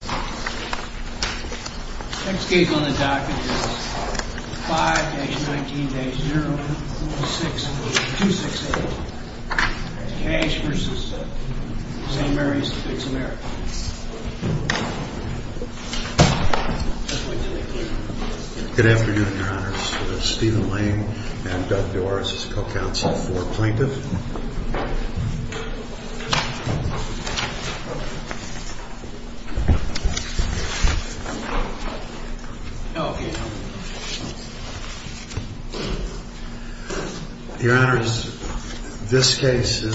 Good afternoon, your honors. Stephen Lane and Doug Doris is co-counsel for plaintiff. Your honors, this case is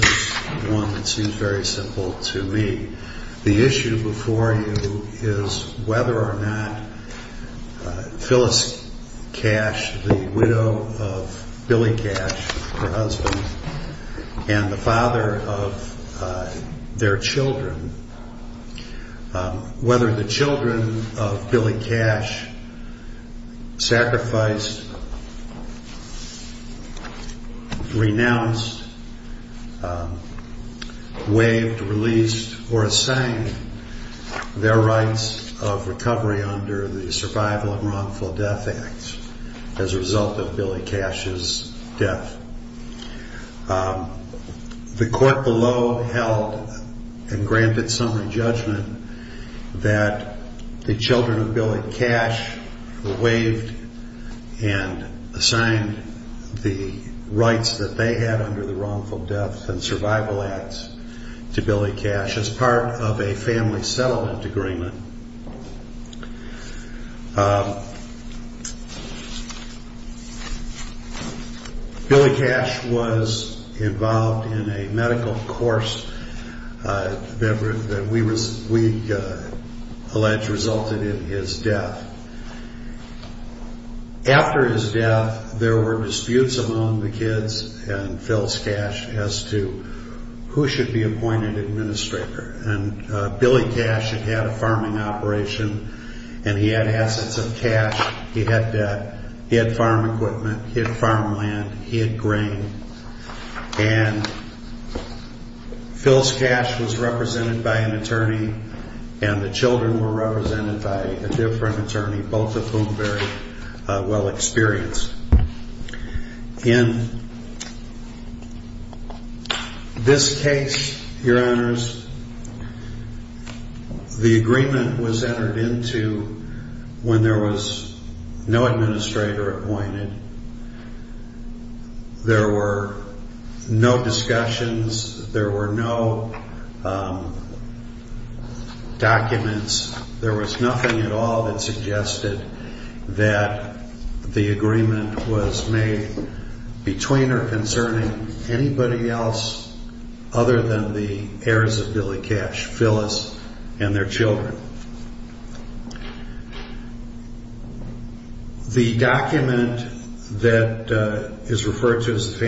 one that seems very simple to me. The issue before you is whether or not Phyllis Cash, the widow of Billy Cash, her husband, and the father of their children, whether the children of Billy Cash sacrificed, renounced, waived, released, or assigned their rights of recovery under the Survival and Wrongful Death Act as a result of Billy Cash's death. The court below held and granted summary judgment that the children of Billy Cash were waived and assigned the rights that they had under the Wrongful Death and Billy Cash was involved in a medical course that we allege resulted in his death. After his death, there were disputes among the kids and and he had assets of cash, he had debt, he had farm equipment, he had farmland, he had grain. And Phyllis Cash was represented by an agreement was entered into when there was no administrator appointed, there were no discussions, there were no documents, there was nothing at all that suggested that the agreement was made between or concerning anybody else other than the heirs of Billy Cash, Phyllis and their children. The document that is referred to as the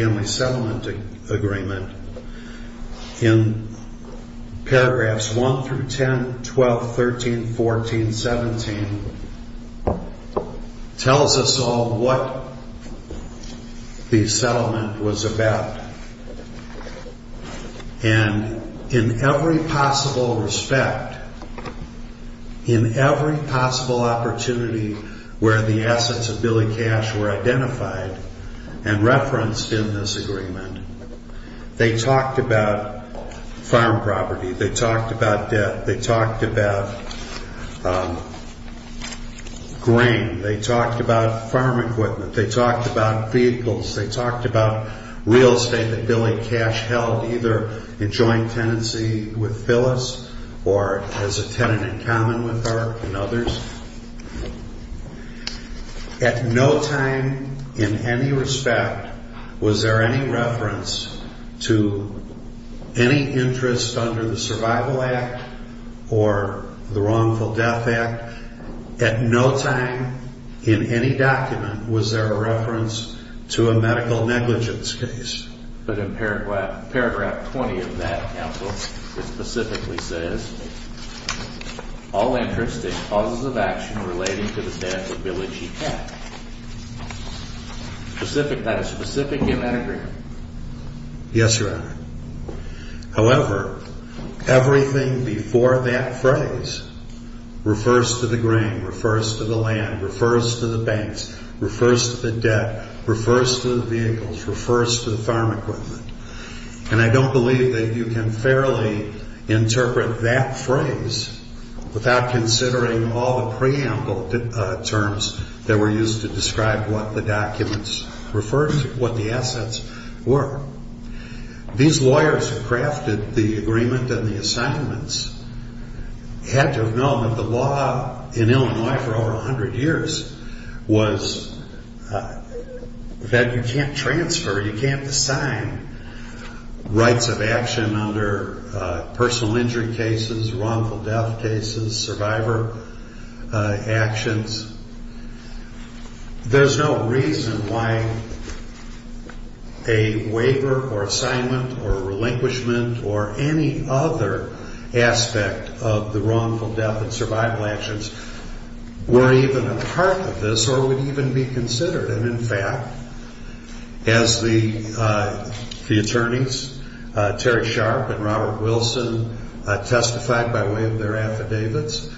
tells us all what the settlement was about. And in every possible respect, in every possible opportunity where the assets of Billy Cash were identified and referenced in this agreement, they talked about farm property, they talked about debt, they talked about grain, they talked about farm equipment, they talked about vehicles, they talked about real estate that Billy Cash held either in joint tenancy with Phyllis or as a tenant in common with her and others. At no time in any respect was there any reference to any interest under the Survival Act or the Wrongful Death Act. At no time in any document was there a reference to a medical negligence case. But in paragraph 20 of that Council, it specifically says, all interest in causes of action relating to the death of Billy G. Cash. That is specific in that agreement. Yes, Your Honor. However, everything before that phrase refers to the grain, refers to the land, refers to the banks, refers to the debt, refers to the vehicles, refers to the farm equipment. And I don't believe that you can fairly interpret that phrase without considering all the preamble terms that were used to describe what the documents referred to, what the assets were. These lawyers who crafted the agreement and the assignments had to have known that the law in Illinois for over 100 years was that you can't transfer, you can't assign rights of action under personal injury cases, wrongful death cases, survivor actions. There's no reason why a waiver or assignment or relinquishment or any other aspect of the wrongful death and survival actions were even a part of this or would even be considered. And in fact, as the attorneys, Terry Sharp and Robert Wilson testified by way of their affidavits,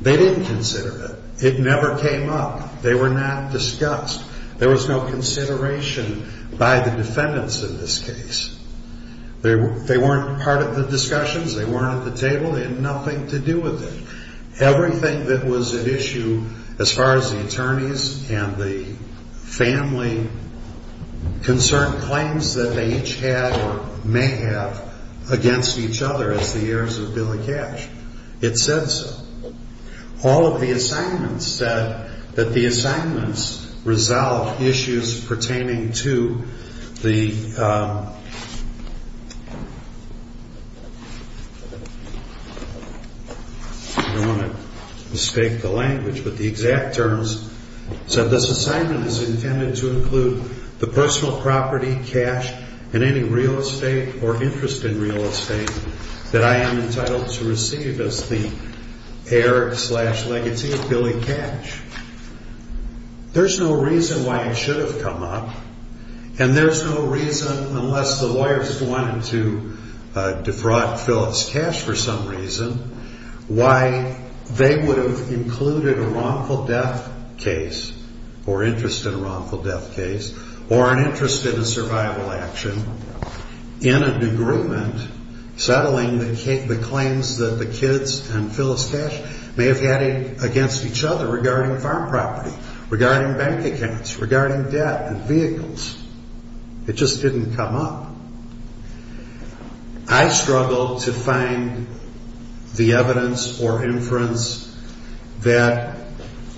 they didn't consider it. It never came up. They were not discussed. There was no consideration by the defendants in this case. They weren't part of the discussions. They weren't at the table. They had nothing to do with it. Everything that was at issue as far as the attorneys and the family concerned, claims that they each had or may have against each other as the heirs of Billy Cash, it said so. All of the assignments said that the assignments resolved issues pertaining to the... I don't want to mistake the language, but the exact terms said, This assignment is intended to include the personal property, cash, and any real estate or interest in real estate that I am entitled to receive as the heir slash legacy of Billy Cash. There's no reason why it should have come up and there's no reason, unless the lawyers wanted to defraud Phyllis Cash for some reason, why they would have included a wrongful death case or interest in a wrongful death case or an interest in a survival action in an agreement settling the claims that the kids and Phyllis Cash may have had against each other regarding farm property, regarding bank accounts, regarding debt and vehicles. It just didn't come up. I struggled to find the evidence or inference that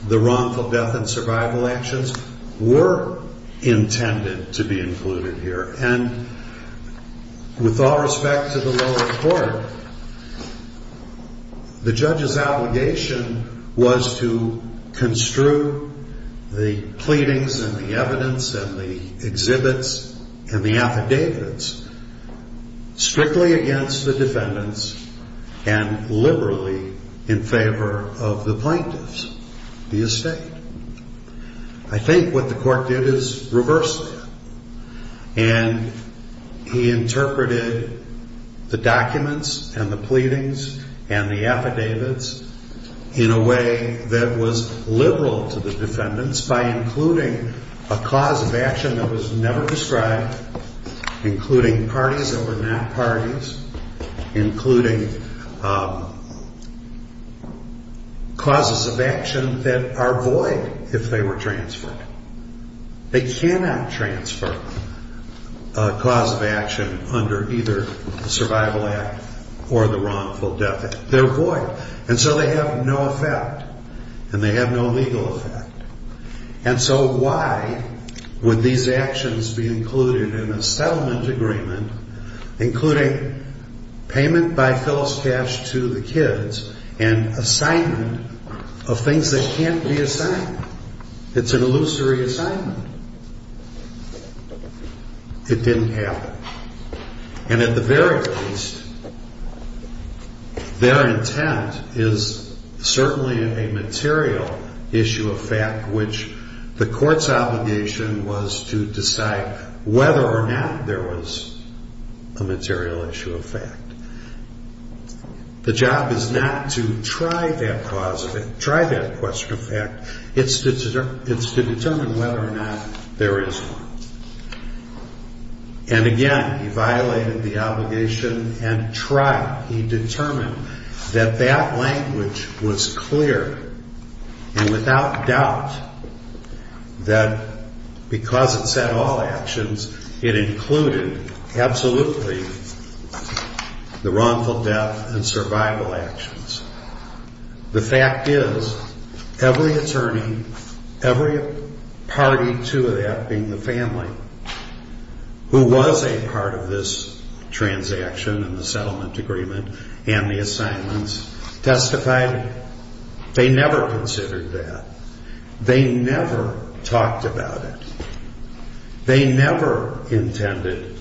the wrongful death and survival actions were intended to be included here. With all respect to the lower court, the judge's obligation was to construe the pleadings and the evidence and the exhibits and the affidavits strictly against the defendants and liberally in favor of the plaintiffs, the estate. I think what the court did is reverse that. And he interpreted the documents and the pleadings and the affidavits in a way that was liberal to the defendants by including a cause of action that was never described, including parties that were not parties, including causes of action that are void of the court. They're void if they were transferred. They cannot transfer a cause of action under either the Survival Act or the wrongful death act. They're void. And so they have no effect. And they have no legal effect. And so why would these actions be included in a settlement agreement, including payment by Phyllis Cash to the kids and assignment of things that can't be assigned? It's an illusory assignment. It didn't happen. And at the very least, their intent is certainly a material issue of fact, which the court's obligation was to decide whether or not there was a material issue of fact. The job is not to try that question of fact. It's to determine whether or not there is one. And again, he violated the obligation and tried. He determined that that language was clear and without doubt that because it said all actions, it included absolutely the wrongful death and survival actions. The fact is every attorney, every party to that, being the family, who was a part of this transaction and the settlement agreement and the assignments, testified they never considered that. They never talked about it. They never intended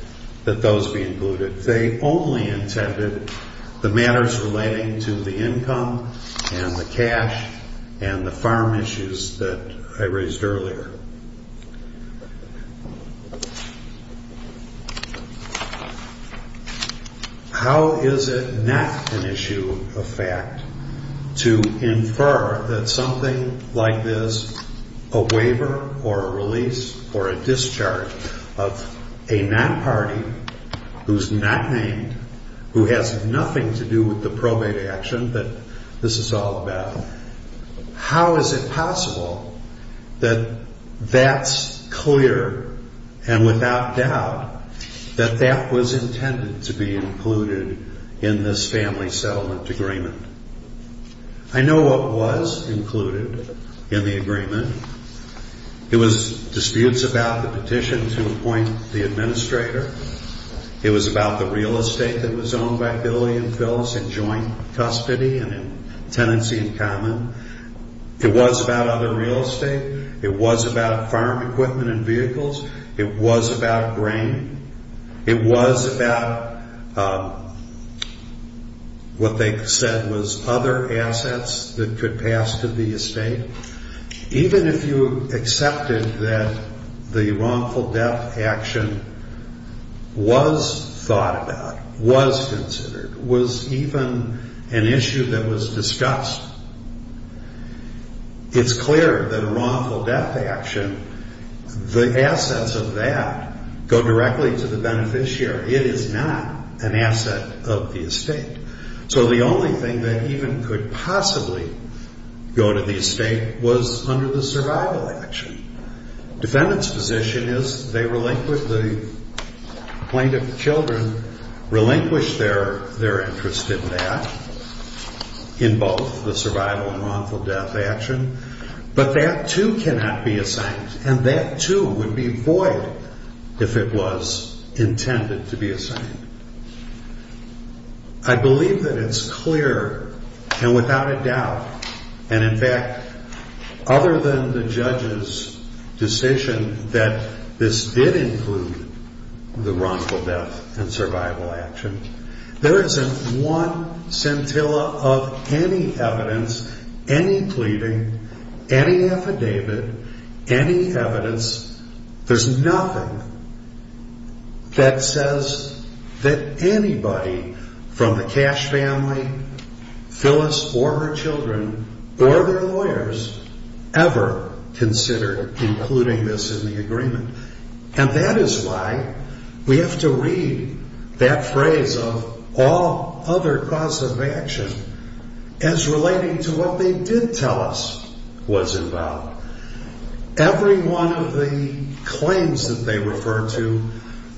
that those be included. They only intended the matters relating to the income and the cash and the farm issues that I raised earlier. How is it not an issue of fact to infer that something like this, a waiver or a release or a discharge of a non-party who's not named, who has nothing to do with the probate action that this is all about? How is it possible that that's clear and without doubt that that was intended to be included in this family settlement agreement? I know what was included in the agreement. It was disputes about the petition to appoint the administrator. It was about the real estate that was owned by Billy and Phyllis in joint custody and in tenancy in common. It was about other real estate. It was about farm equipment and vehicles. It was about grain. It was about what they said was other assets that could pass to the estate. Even if you accepted that the wrongful death action was thought about, was considered, was even an issue that was discussed, it's clear that a wrongful death action, the assets of that go directly to the beneficiary. It is not an asset of the estate. So the only thing that even could possibly go to the estate was under the survival action. Defendant's position is the plaintiff's children relinquish their interest in that, in both the survival and wrongful death action, but that too cannot be assigned and that too would be void if it was intended to be assigned. I believe that it's clear and without a doubt, and in fact, other than the judge's decision that this did include the wrongful death and survival action, there isn't one scintilla of any evidence, any pleading, any affidavit, any evidence. There's nothing that says that anybody from the Cash family, Phyllis or her children, or their lawyers ever considered including this in the agreement. And that is why we have to read that phrase of all other causes of action as relating to what they did tell us was involved. Every one of the claims that they refer to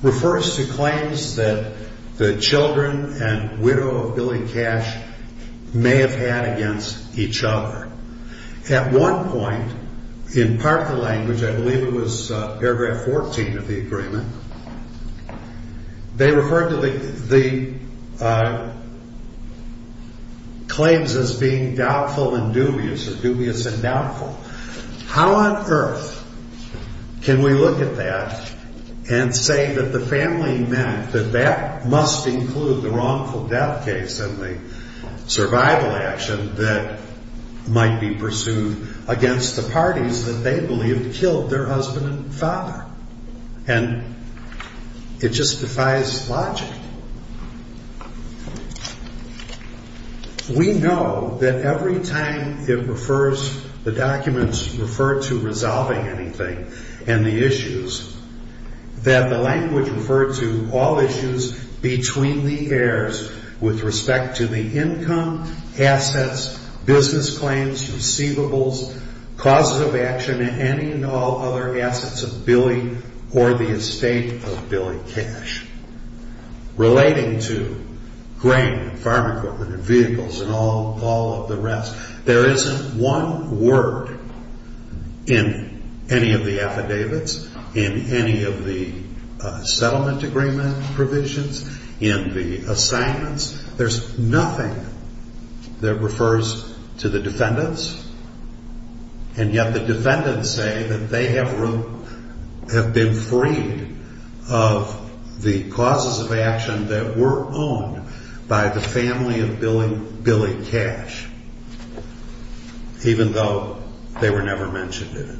refers to claims that the children and widow of Billy Cash may have had against each other. At one point, in Parker language, I believe it was paragraph 14 of the agreement, they referred to the claims as being doubtful and dubious or dubious and doubtful. How on earth can we look at that and say that the family meant that that must include the wrongful death case and the survival action that might be pursued against the parties that they believed killed their husband and father? And it just defies logic. We know that every time it refers, the documents refer to resolving anything and the issues, that the language referred to all issues between the heirs with respect to the income, assets, business claims, receivables, causes of action, and any and all other assets of Billy or the estate of Billy Cash. Relating to grain, farm equipment, vehicles, and all of the rest, there isn't one word in any of the affidavits, in any of the settlement agreement provisions, in the assignments. There's nothing that refers to the defendants, and yet the defendants say that they have been freed of the causes of action that were owned by the family of Billy Cash, even though they were never mentioned in it.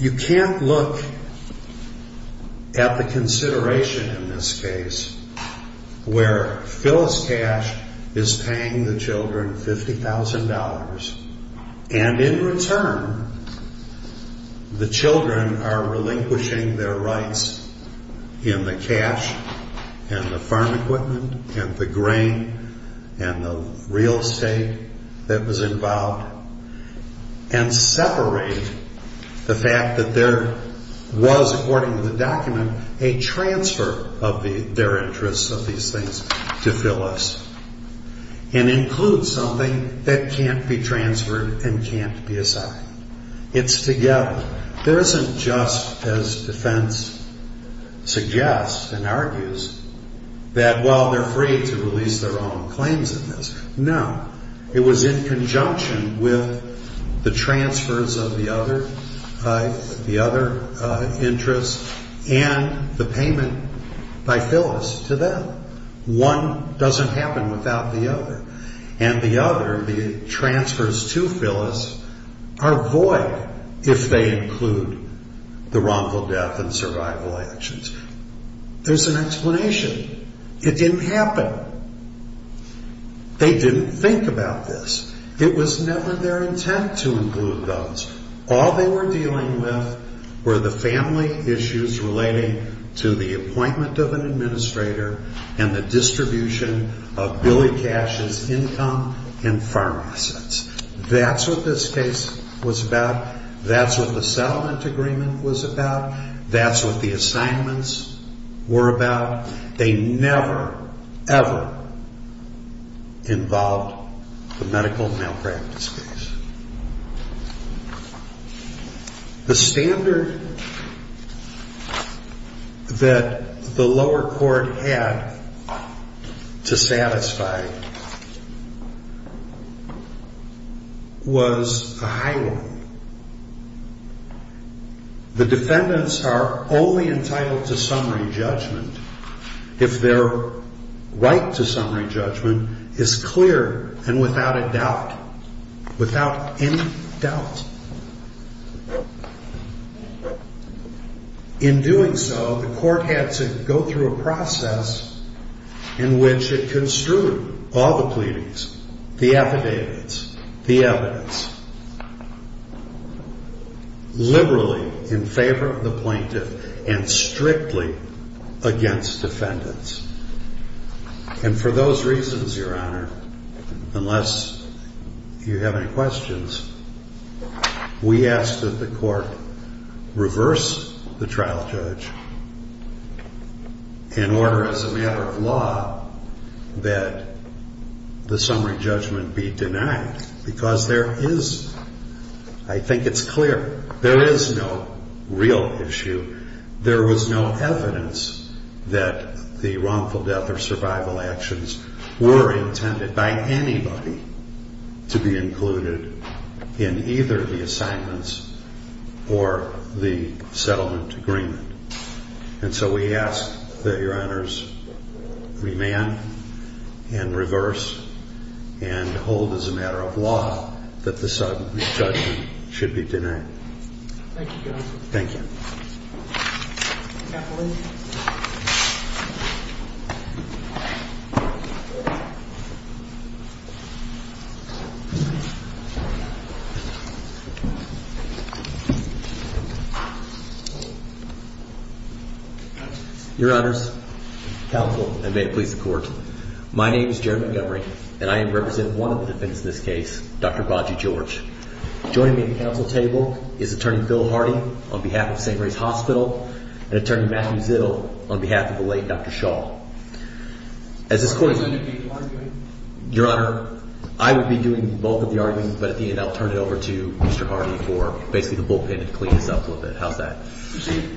You can't look at the consideration in this case where Phyllis Cash is paying the children $50,000, and in return, the children are relinquishing their rights in the cash and the farm equipment and the grain and the resources. You can't take the real estate that was involved and separate the fact that there was, according to the document, a transfer of their interests of these things to Phyllis, and include something that can't be transferred and can't be assigned. It's together. There isn't just, as defense suggests and argues, that, well, they're free to release their own claims in this. No. It was in conjunction with the transfers of the other interests and the payment by Phyllis to them. One doesn't happen without the other, and the other, the transfers to Phyllis, are void if they include the wrongful death and survival actions. There's an explanation. It didn't happen. They didn't think about this. It was never their intent to include those. All they were dealing with were the family issues relating to the appointment of an administrator and the distribution of Billy Cash's income and farm assets. That's what this case was about. That's what the settlement agreement was about. That's what the assignments were about. They never, ever involved the medical malpractice case. The standard that the lower court had to satisfy was a high one. The defendants are only entitled to summary judgment if their right to summary judgment is clear and without a doubt. Without any doubt. In doing so, the court had to go through a process in which it construed all the pleadings, the affidavits, the evidence, liberally in favor of the plaintiff and strictly against defendants. For those reasons, Your Honor, unless you have any questions, we ask that the court reverse the trial judge and order as a matter of law that the summary judgment be denied. Because there is, I think it's clear, there is no real issue. There was no evidence that the wrongful death or survival actions were intended by anybody to be included in either the assignments or the settlement agreement. And so we ask that Your Honors remand and reverse and hold as a matter of law that the summary judgment should be denied. Thank you, Your Honor. Thank you. Your Honors, counsel, and may it please the court, my name is Jerry Montgomery and I am representing one of the defendants in this case, Dr. Bajie George. Joining me at the council table is Attorney Phil Hardy on behalf of St. Mary's Hospital and Attorney Matthew Zill on behalf of the late Dr. Shaw. As this court is undergoing the argument, Your Honor, I would be doing both of the arguments, but at the end I'll turn it over to Mr. Hardy for basically the bullpen to clean this up a little bit. How's that? Proceed.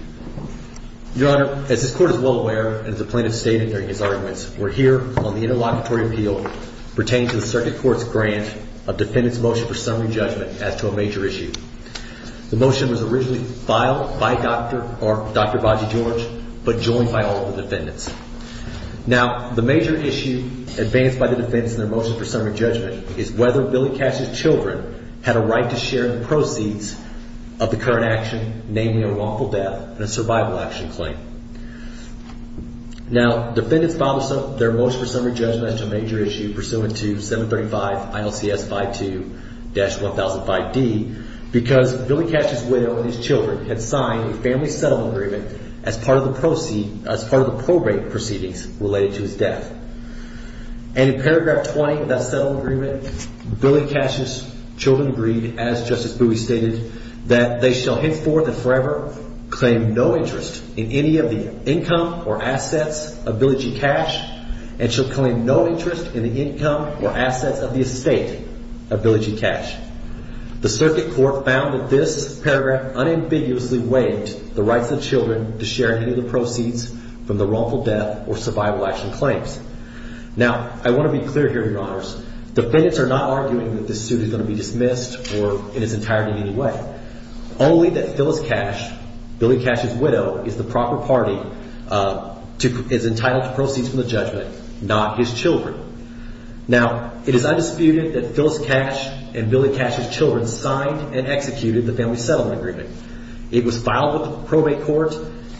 Your Honor, as this court is well aware and as the plaintiff stated during his arguments, we're here on the interlocutory appeal pertaining to the circuit court's grant of defendant's motion for summary judgment as to a major issue. The motion was originally filed by Dr. Bajie George, but joined by all of the defendants. Now, the major issue advanced by the defendants in their motion for summary judgment is whether Billy Cash's children had a right to share in the proceeds of the current action, namely a wrongful death and a survival action claim. Now, defendants filed their motion for summary judgment as to a major issue pursuant to 735 ILCS 52-1005D because Billy Cash's widow and his children had signed a family settlement agreement as part of the proceedings related to his death. And in paragraph 20 of that settlement agreement, Billy Cash's children agreed, as Justice Bowie stated, that they shall henceforth and forever claim no interest in any of the income or assets of Billy G. Cash and shall claim no interest in the income or assets of the estate of Billy G. Cash. The circuit court found that this paragraph unambiguously waived the rights of the children to share any of the proceeds from the wrongful death or survival action claims. Now, I want to be clear here, Your Honors. Defendants are not arguing that this suit is going to be dismissed or in its entirety in any way, only that Phyllis Cash, Billy Cash's widow, is the proper party, is entitled to proceeds from the judgment, not his children. Now, it is undisputed that Phyllis Cash and Billy Cash's children signed and executed the family settlement agreement. It was filed with the probate court,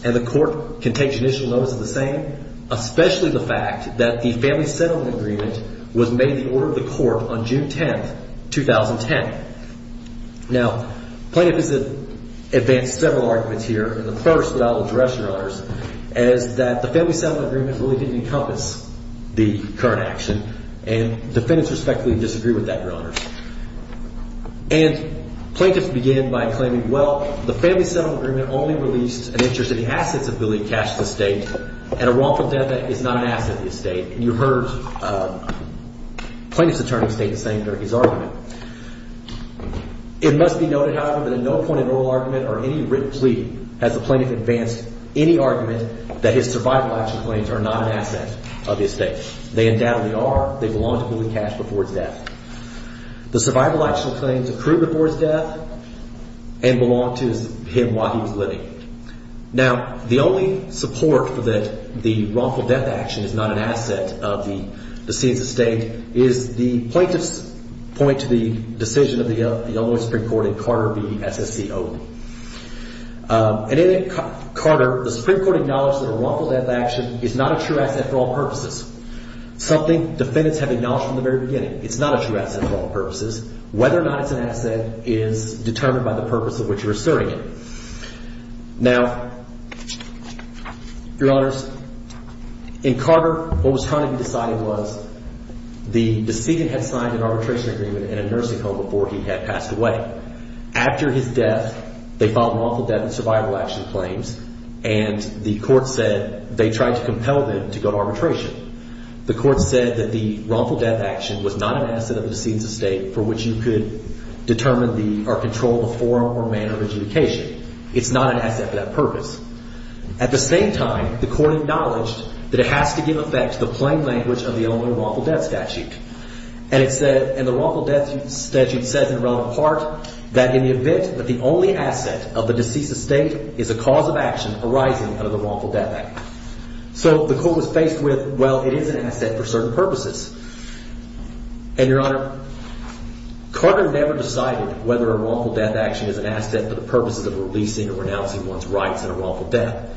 and the court can take judicial notice of the same, especially the fact that the family settlement agreement was made in order of the court on June 10, 2010. Now, plaintiff has advanced several arguments here, and the first that I will address, Your Honors, is that the family settlement agreement really didn't encompass the current action, and defendants respectfully disagree with that, Your Honors. And plaintiffs begin by claiming, well, the family settlement agreement only released an interest in the assets of Billy Cash's estate, and a wrongful death is not an asset of the estate. And you heard plaintiff's attorney state the same for his argument. It must be noted, however, that at no point in oral argument or any written plea has the plaintiff advanced any argument that his survival action claims are not an asset of the estate. They undoubtedly are. They belong to Billy Cash before his death. The survival action claims accrue before his death and belong to him while he was living. Now, the only support for that the wrongful death action is not an asset of the decedent's estate is the plaintiff's point to the decision of the Illinois Supreme Court in Carter v. SSCO. And in Carter, the Supreme Court acknowledged that a wrongful death action is not a true asset for all purposes, something defendants have acknowledged from the very beginning. It's not a true asset for all purposes. Whether or not it's an asset is determined by the purpose of which you're asserting it. Now, Your Honors, in Carter, what was trying to be decided was the decedent had signed an arbitration agreement in a nursing home before he had passed away. After his death, they filed wrongful death and survival action claims, and the court said they tried to compel them to go to arbitration. The court said that the wrongful death action was not an asset of the decedent's estate for which you could determine the – or control the form or manner of adjudication. It's not an asset for that purpose. At the same time, the court acknowledged that it has to give effect to the plain language of the Illinois wrongful death statute. And it said – and the wrongful death statute said in a relevant part that in the event that the only asset of the deceased's estate is a cause of action arising under the wrongful death act. So the court was faced with, well, it is an asset for certain purposes. And, Your Honor, Carter never decided whether a wrongful death action is an asset for the purposes of releasing or renouncing one's rights in a wrongful death.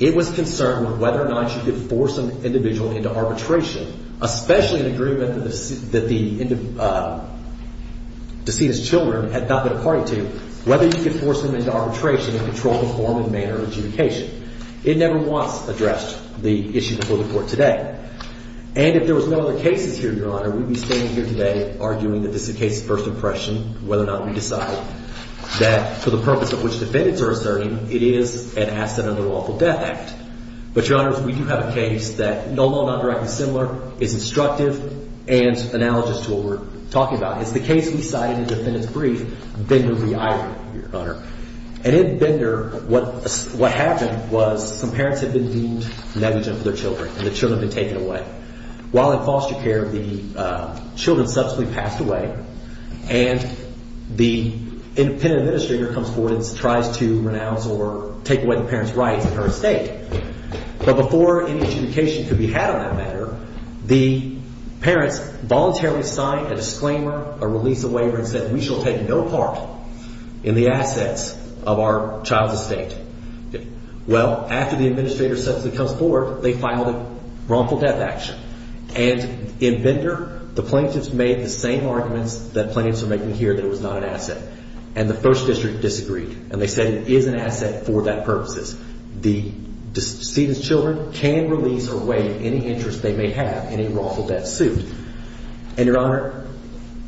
It was concerned with whether or not you could force an individual into arbitration, especially an agreement that the decedent's children had not been a party to, whether you could force them into arbitration and control the form and manner of adjudication. It never was addressed, the issue before the court today. And if there was no other cases here, Your Honor, we would be standing here today arguing that this is a case of first impression, whether or not we decide that for the purpose of which defendants are asserting, it is an asset under the wrongful death act. But, Your Honors, we do have a case that, although not directly similar, is instructive and analogous to what we're talking about. It's the case we cited in the defendant's brief, Bender v. Ira, Your Honor. And in Bender, what happened was some parents had been deemed negligent for their children, and the children had been taken away. While in foster care, the children subsequently passed away, and the independent administrator comes forward and tries to renounce or take away the parents' rights in her estate. But before any adjudication could be had on that matter, the parents voluntarily signed a disclaimer, a release of waiver, and said we shall take no part in the assets of our child's estate. Well, after the administrator subsequently comes forward, they filed a wrongful death action. And in Bender, the plaintiffs made the same arguments that plaintiffs are making here that it was not an asset. And the first district disagreed, and they said it is an asset for that purposes. The decedent's children can release or waive any interest they may have in a wrongful death suit. And, Your Honor,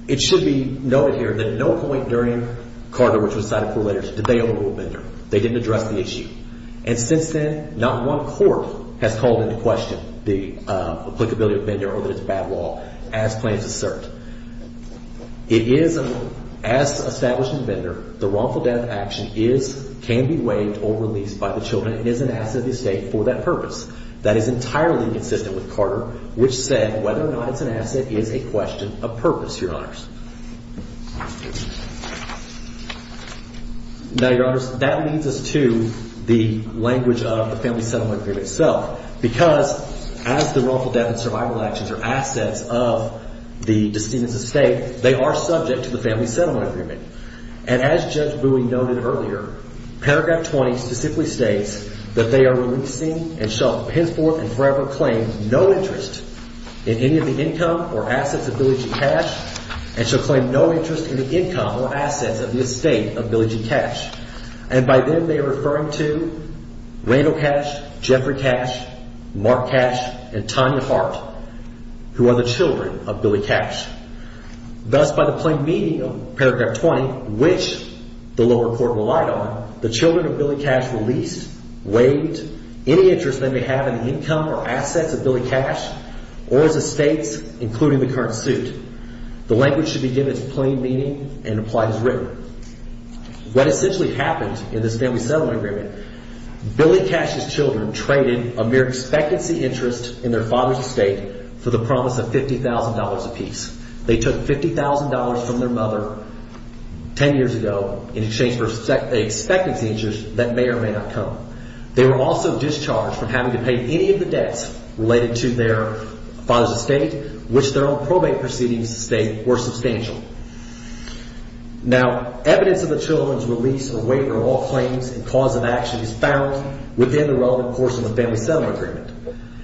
it should be noted here that at no point during Carter, which was cited for letters, did they overrule Bender. They didn't address the issue. And since then, not one court has called into question the applicability of Bender or that it's a bad law, as plaintiffs assert. It is, as established in Bender, the wrongful death action can be waived or released by the children. It is an asset of the estate for that purpose. That is entirely consistent with Carter, which said whether or not it's an asset is a question of purpose, Your Honors. Now, Your Honors, that leads us to the language of the family settlement agreement itself, because as the wrongful death and survival actions are assets of the decedent's estate, they are subject to the family settlement agreement. And as Judge Bowie noted earlier, Paragraph 20 specifically states that they are releasing and shall henceforth and forever claim no interest in any of the income or assets of Billy G. Cash and shall claim no interest in the income or assets of the estate of Billy G. Cash. And by them, they are referring to Randall Cash, Jeffrey Cash, Mark Cash, and Tanya Hart, who are the children of Billy Cash. Thus, by the plain meaning of Paragraph 20, which the lower court relied on, the children of Billy Cash released, waived any interest they may have in the income or assets of Billy Cash or his estates, including the current suit. The language should be given its plain meaning and applied as written. What essentially happened in this family settlement agreement, Billy Cash's children traded a mere expectancy interest in their father's estate for the promise of $50,000 apiece. They took $50,000 from their mother 10 years ago in exchange for expectancy interest that may or may not come. They were also discharged from having to pay any of the debts related to their father's estate, which their own probate proceedings to state were substantial. Now, evidence of the children's release or waiver of all claims and cause of action is found within the relevant portion of the family settlement agreement.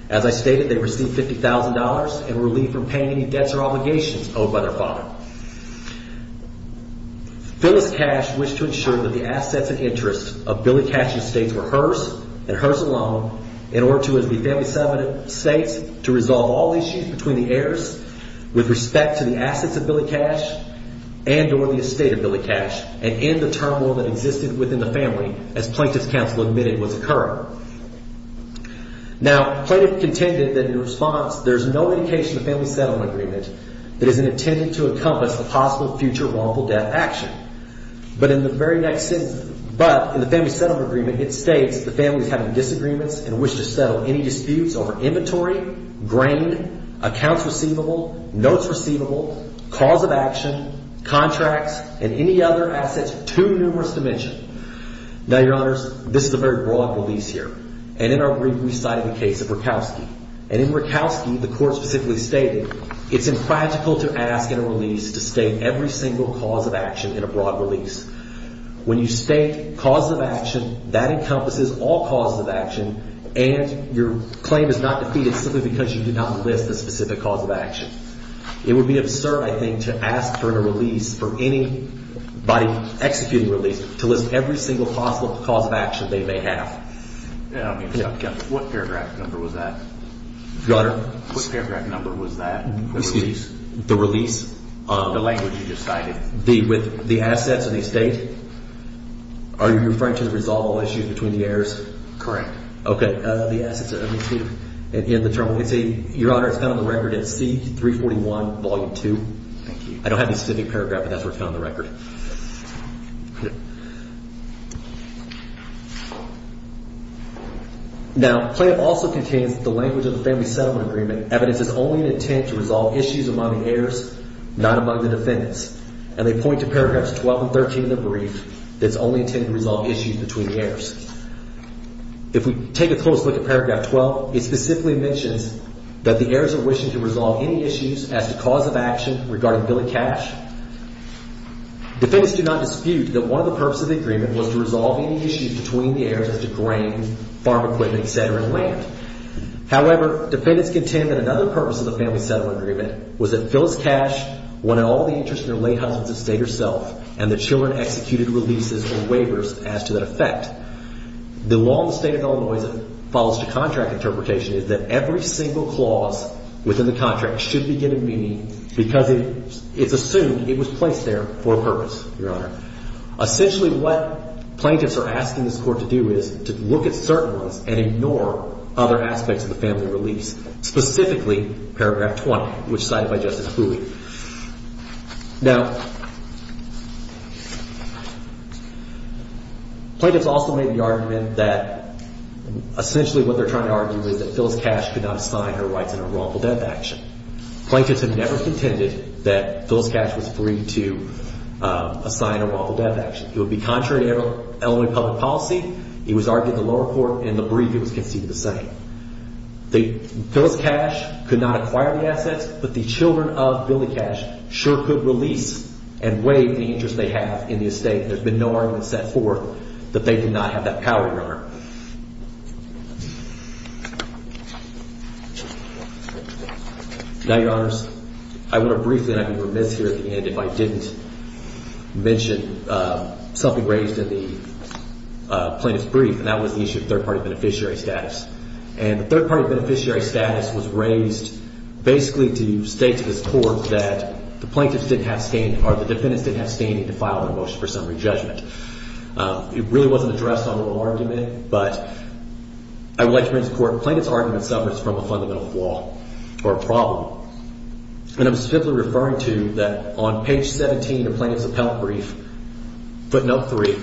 As I stated, they received $50,000 in relief from paying any debts or obligations owed by their father. Phyllis Cash wished to ensure that the assets and interests of Billy Cash's estates were hers and hers alone in order for the family settlement estate to resolve all issues between the heirs with respect to the assets of Billy Cash and or the estate of Billy Cash and end the turmoil that existed within the family as Plaintiff's counsel admitted was occurring. Now, Plaintiff contended that in response, there's no indication in the family settlement agreement that is intended to encompass the possible future wrongful death action. But in the very next sentence, but in the family settlement agreement, it states the family is having disagreements and wish to settle any disputes over inventory, grain, accounts receivable, notes receivable, cause of action, contracts, and any other assets too numerous to mention. Now, Your Honors, this is a very broad release here. And in our brief, we cited the case of Rakowski. And in Rakowski, the court specifically stated it's impractical to ask in a release to state every single cause of action in a broad release. When you state cause of action, that encompasses all causes of action and your claim is not defeated simply because you did not list a specific cause of action. It would be absurd, I think, to ask for a release for any body executing release to list every single possible cause of action they may have. I mean, what paragraph number was that? Your Honor. What paragraph number was that? Excuse me. The release. The language you just cited. The – with the assets of the estate? Are you referring to the resolvable issue between the heirs? Correct. Okay. It's a – Your Honor, it's found on the record in C-341, Volume 2. Thank you. I don't have the specific paragraph, but that's where it's found on the record. Now, the claim also contains the language of the Family Settlement Agreement. Evidence is only an intent to resolve issues among the heirs, not among the defendants. And they point to paragraphs 12 and 13 of the brief that's only intended to resolve issues between the heirs. If we take a close look at paragraph 12, it specifically mentions that the heirs are wishing to resolve any issues as to cause of action regarding Billy Cash. Defendants do not dispute that one of the purposes of the agreement was to resolve any issues between the heirs as to grain, farm equipment, et cetera, and land. However, defendants contend that another purpose of the Family Settlement Agreement was that Phyllis Cash wanted all the interest in her late husband's estate herself, and the children executed releases or waivers as to that effect. The law in the state of Illinois that follows to contract interpretation is that every single clause within the contract should be given meaning because it's assumed it was placed there for a purpose, Your Honor. Essentially, what plaintiffs are asking this Court to do is to look at certain ones and ignore other aspects of the family release, specifically paragraph 20, which is cited by Justice Boole. Now, plaintiffs also made the argument that essentially what they're trying to argue is that Phyllis Cash could not assign her rights in a wrongful death action. Plaintiffs have never contended that Phyllis Cash was free to assign a wrongful death action. It would be contrary to Illinois public policy. It was argued in the lower court, and the brief, it was conceded the same. Phyllis Cash could not acquire the assets, but the children of Billy Cash sure could release and waive the interest they have in the estate. There's been no argument set forth that they did not have that power, Your Honor. Now, Your Honors, I want to briefly, and I'd be remiss here at the end if I didn't mention something raised in the plaintiff's brief, and that was the issue of third-party beneficiary status. And the third-party beneficiary status was raised basically to state to this Court that the plaintiffs didn't have standing or the defendants didn't have standing to file a motion for summary judgment. It really wasn't addressed on the argument, but I would like to bring this to the Court. Plaintiff's argument suffers from a fundamental flaw or problem, and I'm simply referring to that on page 17 of the plaintiff's appellate brief, footnote 3,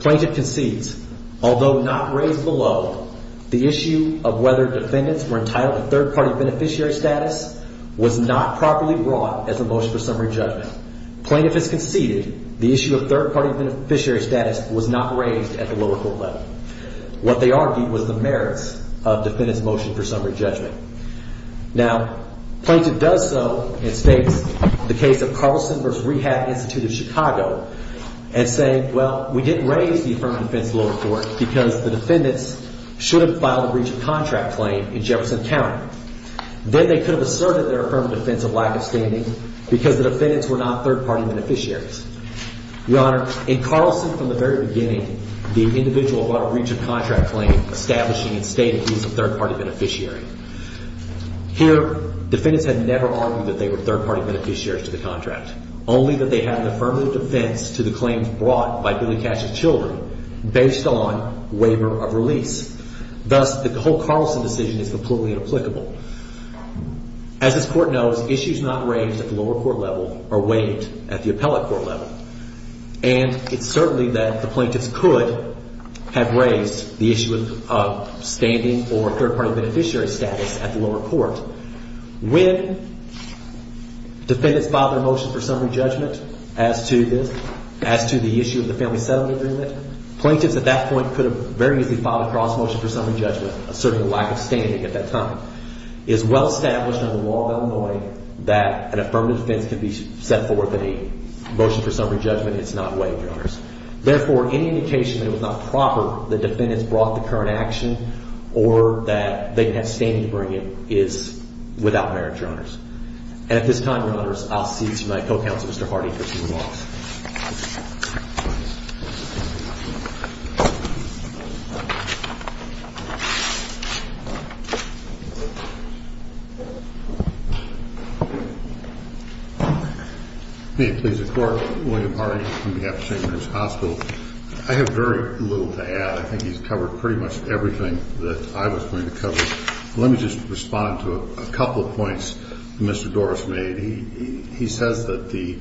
plaintiff concedes, although not raised below, the issue of whether defendants were entitled to third-party beneficiary status was not properly brought as a motion for summary judgment. Plaintiff has conceded the issue of third-party beneficiary status was not raised at the lower court level. What they argued was the merits of defendants' motion for summary judgment. Now, plaintiff does so and states the case of Carlson v. Rehab Institute of Chicago and saying, well, we didn't raise the affirmative defense at the lower court because the defendants shouldn't file a breach of contract claim in Jefferson County. Then they could have asserted their affirmative defense of lack of standing because the defendants were not third-party beneficiaries. Your Honor, in Carlson, from the very beginning, the individual brought a breach of contract claim establishing and stating he was a third-party beneficiary. Here, defendants had never argued that they were third-party beneficiaries to the contract, only that they had an affirmative defense to the claims brought by Billy Cash's children based on waiver of release. Thus, the whole Carlson decision is completely inapplicable. As this Court knows, issues not raised at the lower court level are waived at the appellate court level. And it's certainly that the plaintiffs could have raised the issue of standing or third-party beneficiary status at the lower court. When defendants filed their motion for summary judgment as to the issue of the family settlement agreement, plaintiffs at that point could have very easily filed a cross-motion for summary judgment asserting a lack of standing at that time. It is well established under the law of Illinois that an affirmative defense can be set forth in a motion for summary judgment. It's not waived, Your Honors. Therefore, any indication that it was not proper that defendants brought the current action or that they didn't have standing to bring it is without merit, Your Honors. And at this time, Your Honors, I'll cede to my co-counsel, Mr. Hardy, for two remarks. May it please the Court, William Hardy on behalf of St. Mary's Hospital. I have very little to add. I think he's covered pretty much everything that I was going to cover. Let me just respond to a couple of points that Mr. Doris made. He says that the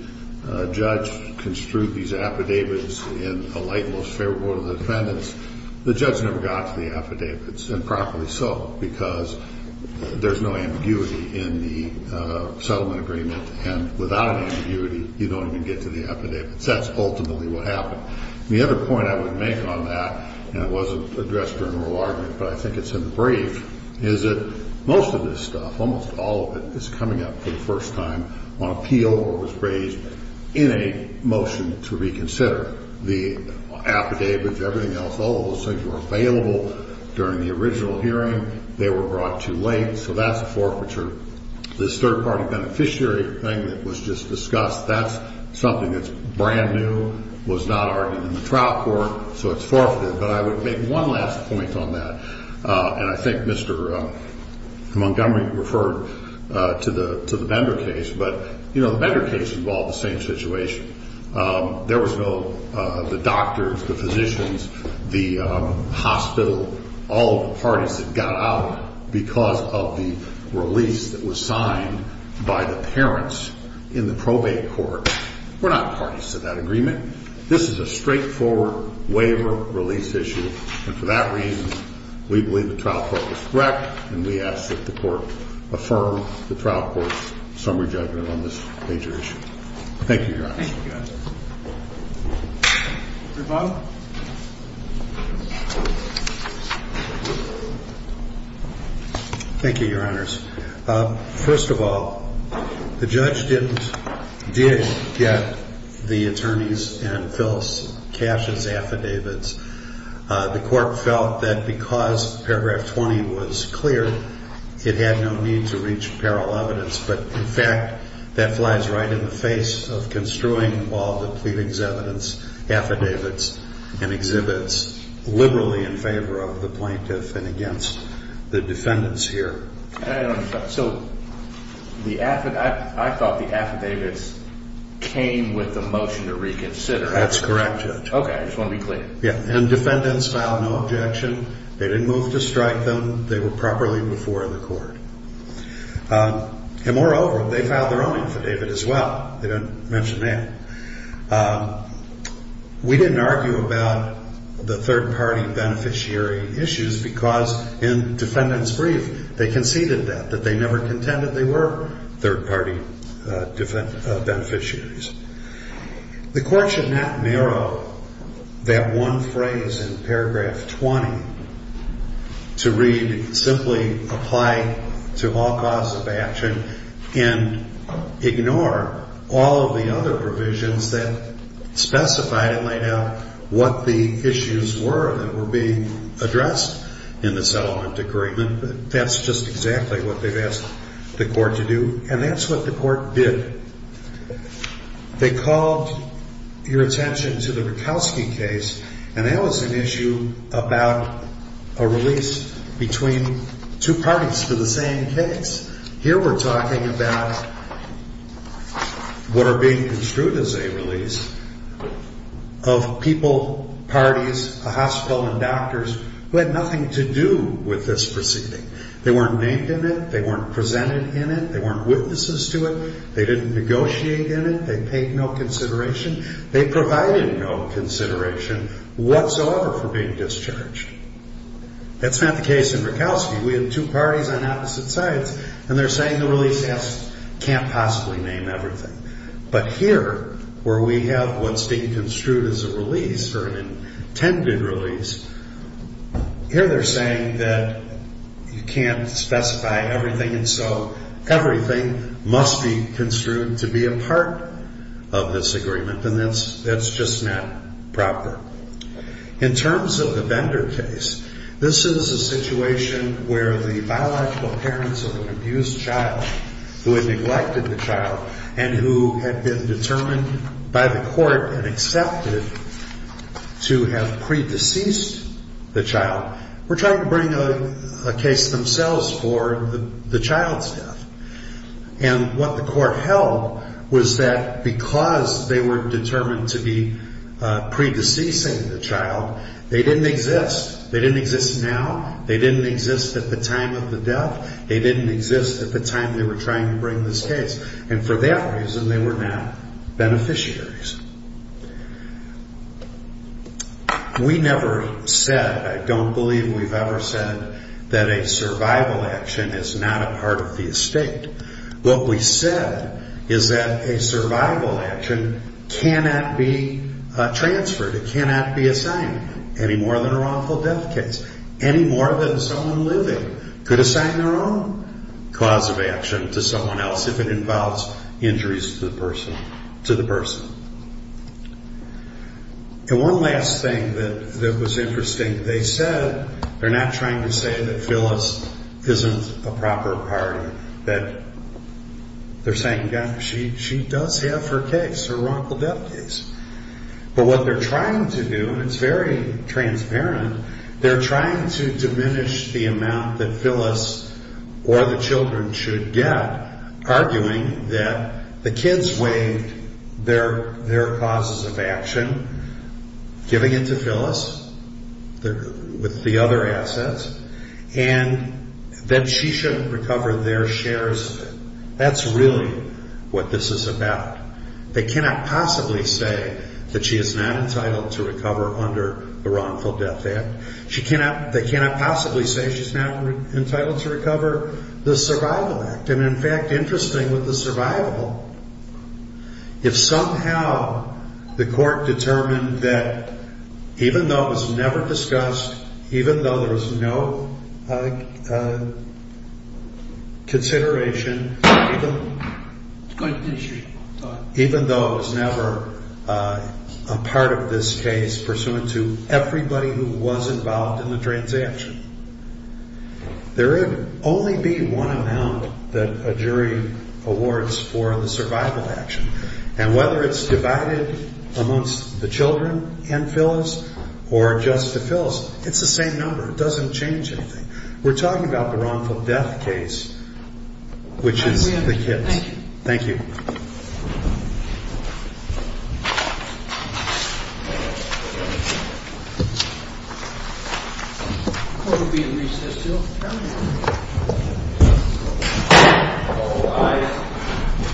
judge construed these affidavits in a light and most favorable of the defendants. The judge never got to the affidavits, and probably so, because there's no ambiguity in the settlement agreement. And without an ambiguity, you don't even get to the affidavits. That's ultimately what happened. The other point I would make on that, and it wasn't addressed during oral argument, but I think it's in the brief, is that most of this stuff, almost all of it, is coming up for the first time on appeal or was raised in a motion to reconsider. The affidavits, everything else, all of those things were available during the original hearing. They were brought too late, so that's a forfeiture. This third-party beneficiary thing that was just discussed, that's something that's brand new, was not argued in the trial court, so it's forfeited. But I would make one last point on that, and I think Mr. Montgomery referred to the Bender case. But, you know, the Bender case involved the same situation. There was no the doctors, the physicians, the hospital, all of the parties that got out because of the release that was signed by the parents in the probate court. We're not parties to that agreement. This is a straightforward waiver release issue, and for that reason, we believe the trial court was correct, and we ask that the court affirm the trial court's summary judgment on this major issue. Thank you, Your Honor. Thank you, Your Honors. First of all, the judge did get the attorneys and Phyllis Cash's affidavits. The court felt that because paragraph 20 was clear, it had no need to reach apparel evidence. But, in fact, that flies right in the face of construing all the pleadings, evidence, affidavits, and exhibits liberally in favor of the plaintiff and against the defendants here. So I thought the affidavits came with the motion to reconsider. That's correct, Judge. Okay, I just want to be clear. Yeah, and defendants filed no objection. They didn't move to strike them. They were properly before the court. And, moreover, they filed their own affidavit as well. They don't mention that. We didn't argue about the third-party beneficiary issues because in defendants' brief, they conceded that, that they never contended they were third-party beneficiaries. The court should not narrow that one phrase in paragraph 20 to read simply apply to all cause of action and ignore all of the other provisions that specified and laid out what the issues were that were being addressed in the settlement agreement. That's just exactly what they've asked the court to do. And that's what the court did. They called your attention to the Rutkowski case, and that was an issue about a release between two parties to the same case. Here we're talking about what are being construed as a release of people, parties, a hospital, and doctors who had nothing to do with this proceeding. They weren't named in it. They weren't presented in it. They weren't witnesses to it. They didn't negotiate in it. They paid no consideration. They provided no consideration whatsoever for being discharged. That's not the case in Rutkowski. We have two parties on opposite sides, and they're saying the release can't possibly name everything. But here, where we have what's being construed as a release or an intended release, here they're saying that you can't specify everything, and so everything must be construed to be a part of this agreement. And that's just not proper. In terms of the Bender case, this is a situation where the biological parents of an abused child who had neglected the child and who had been determined by the court and accepted to have pre-deceased the child were trying to bring a case themselves for the child's death. And what the court held was that because they were determined to be pre-deceasing the child, they didn't exist. They didn't exist now. They didn't exist at the time of the death. They didn't exist at the time they were trying to bring this case. And for that reason, they were not beneficiaries. We never said, I don't believe we've ever said, that a survival action is not a part of the estate. What we said is that a survival action cannot be transferred, it cannot be assigned, any more than a wrongful death case, any more than someone living could assign their own cause of action to someone else if it involves injuries to the person. And one last thing that was interesting, they said, they're not trying to say that Phyllis isn't a proper party. They're saying, she does have her case, her wrongful death case. But what they're trying to do, and it's very transparent, they're trying to diminish the amount that Phyllis or the children should get, arguing that the kids waived their causes of action, giving it to Phyllis with the other assets, and that she should recover their shares of it. That's really what this is about. They cannot possibly say that she is not entitled to recover under the Wrongful Death Act. They cannot possibly say she's not entitled to recover the Survival Act. And in fact, interesting with the survivable, if somehow the court determined that even though it was never discussed, even though there was no consideration, even though it was never a part of this case pursuant to everybody who was involved in the transaction, there would only be one amount that a jury awards for the survival action. And whether it's divided amongst the children and Phyllis or just to Phyllis, it's the same number. It doesn't change anything. We're talking about the wrongful death case, which is the kids. Thank you. Thank you. The Court will be in recess until 10 a.m.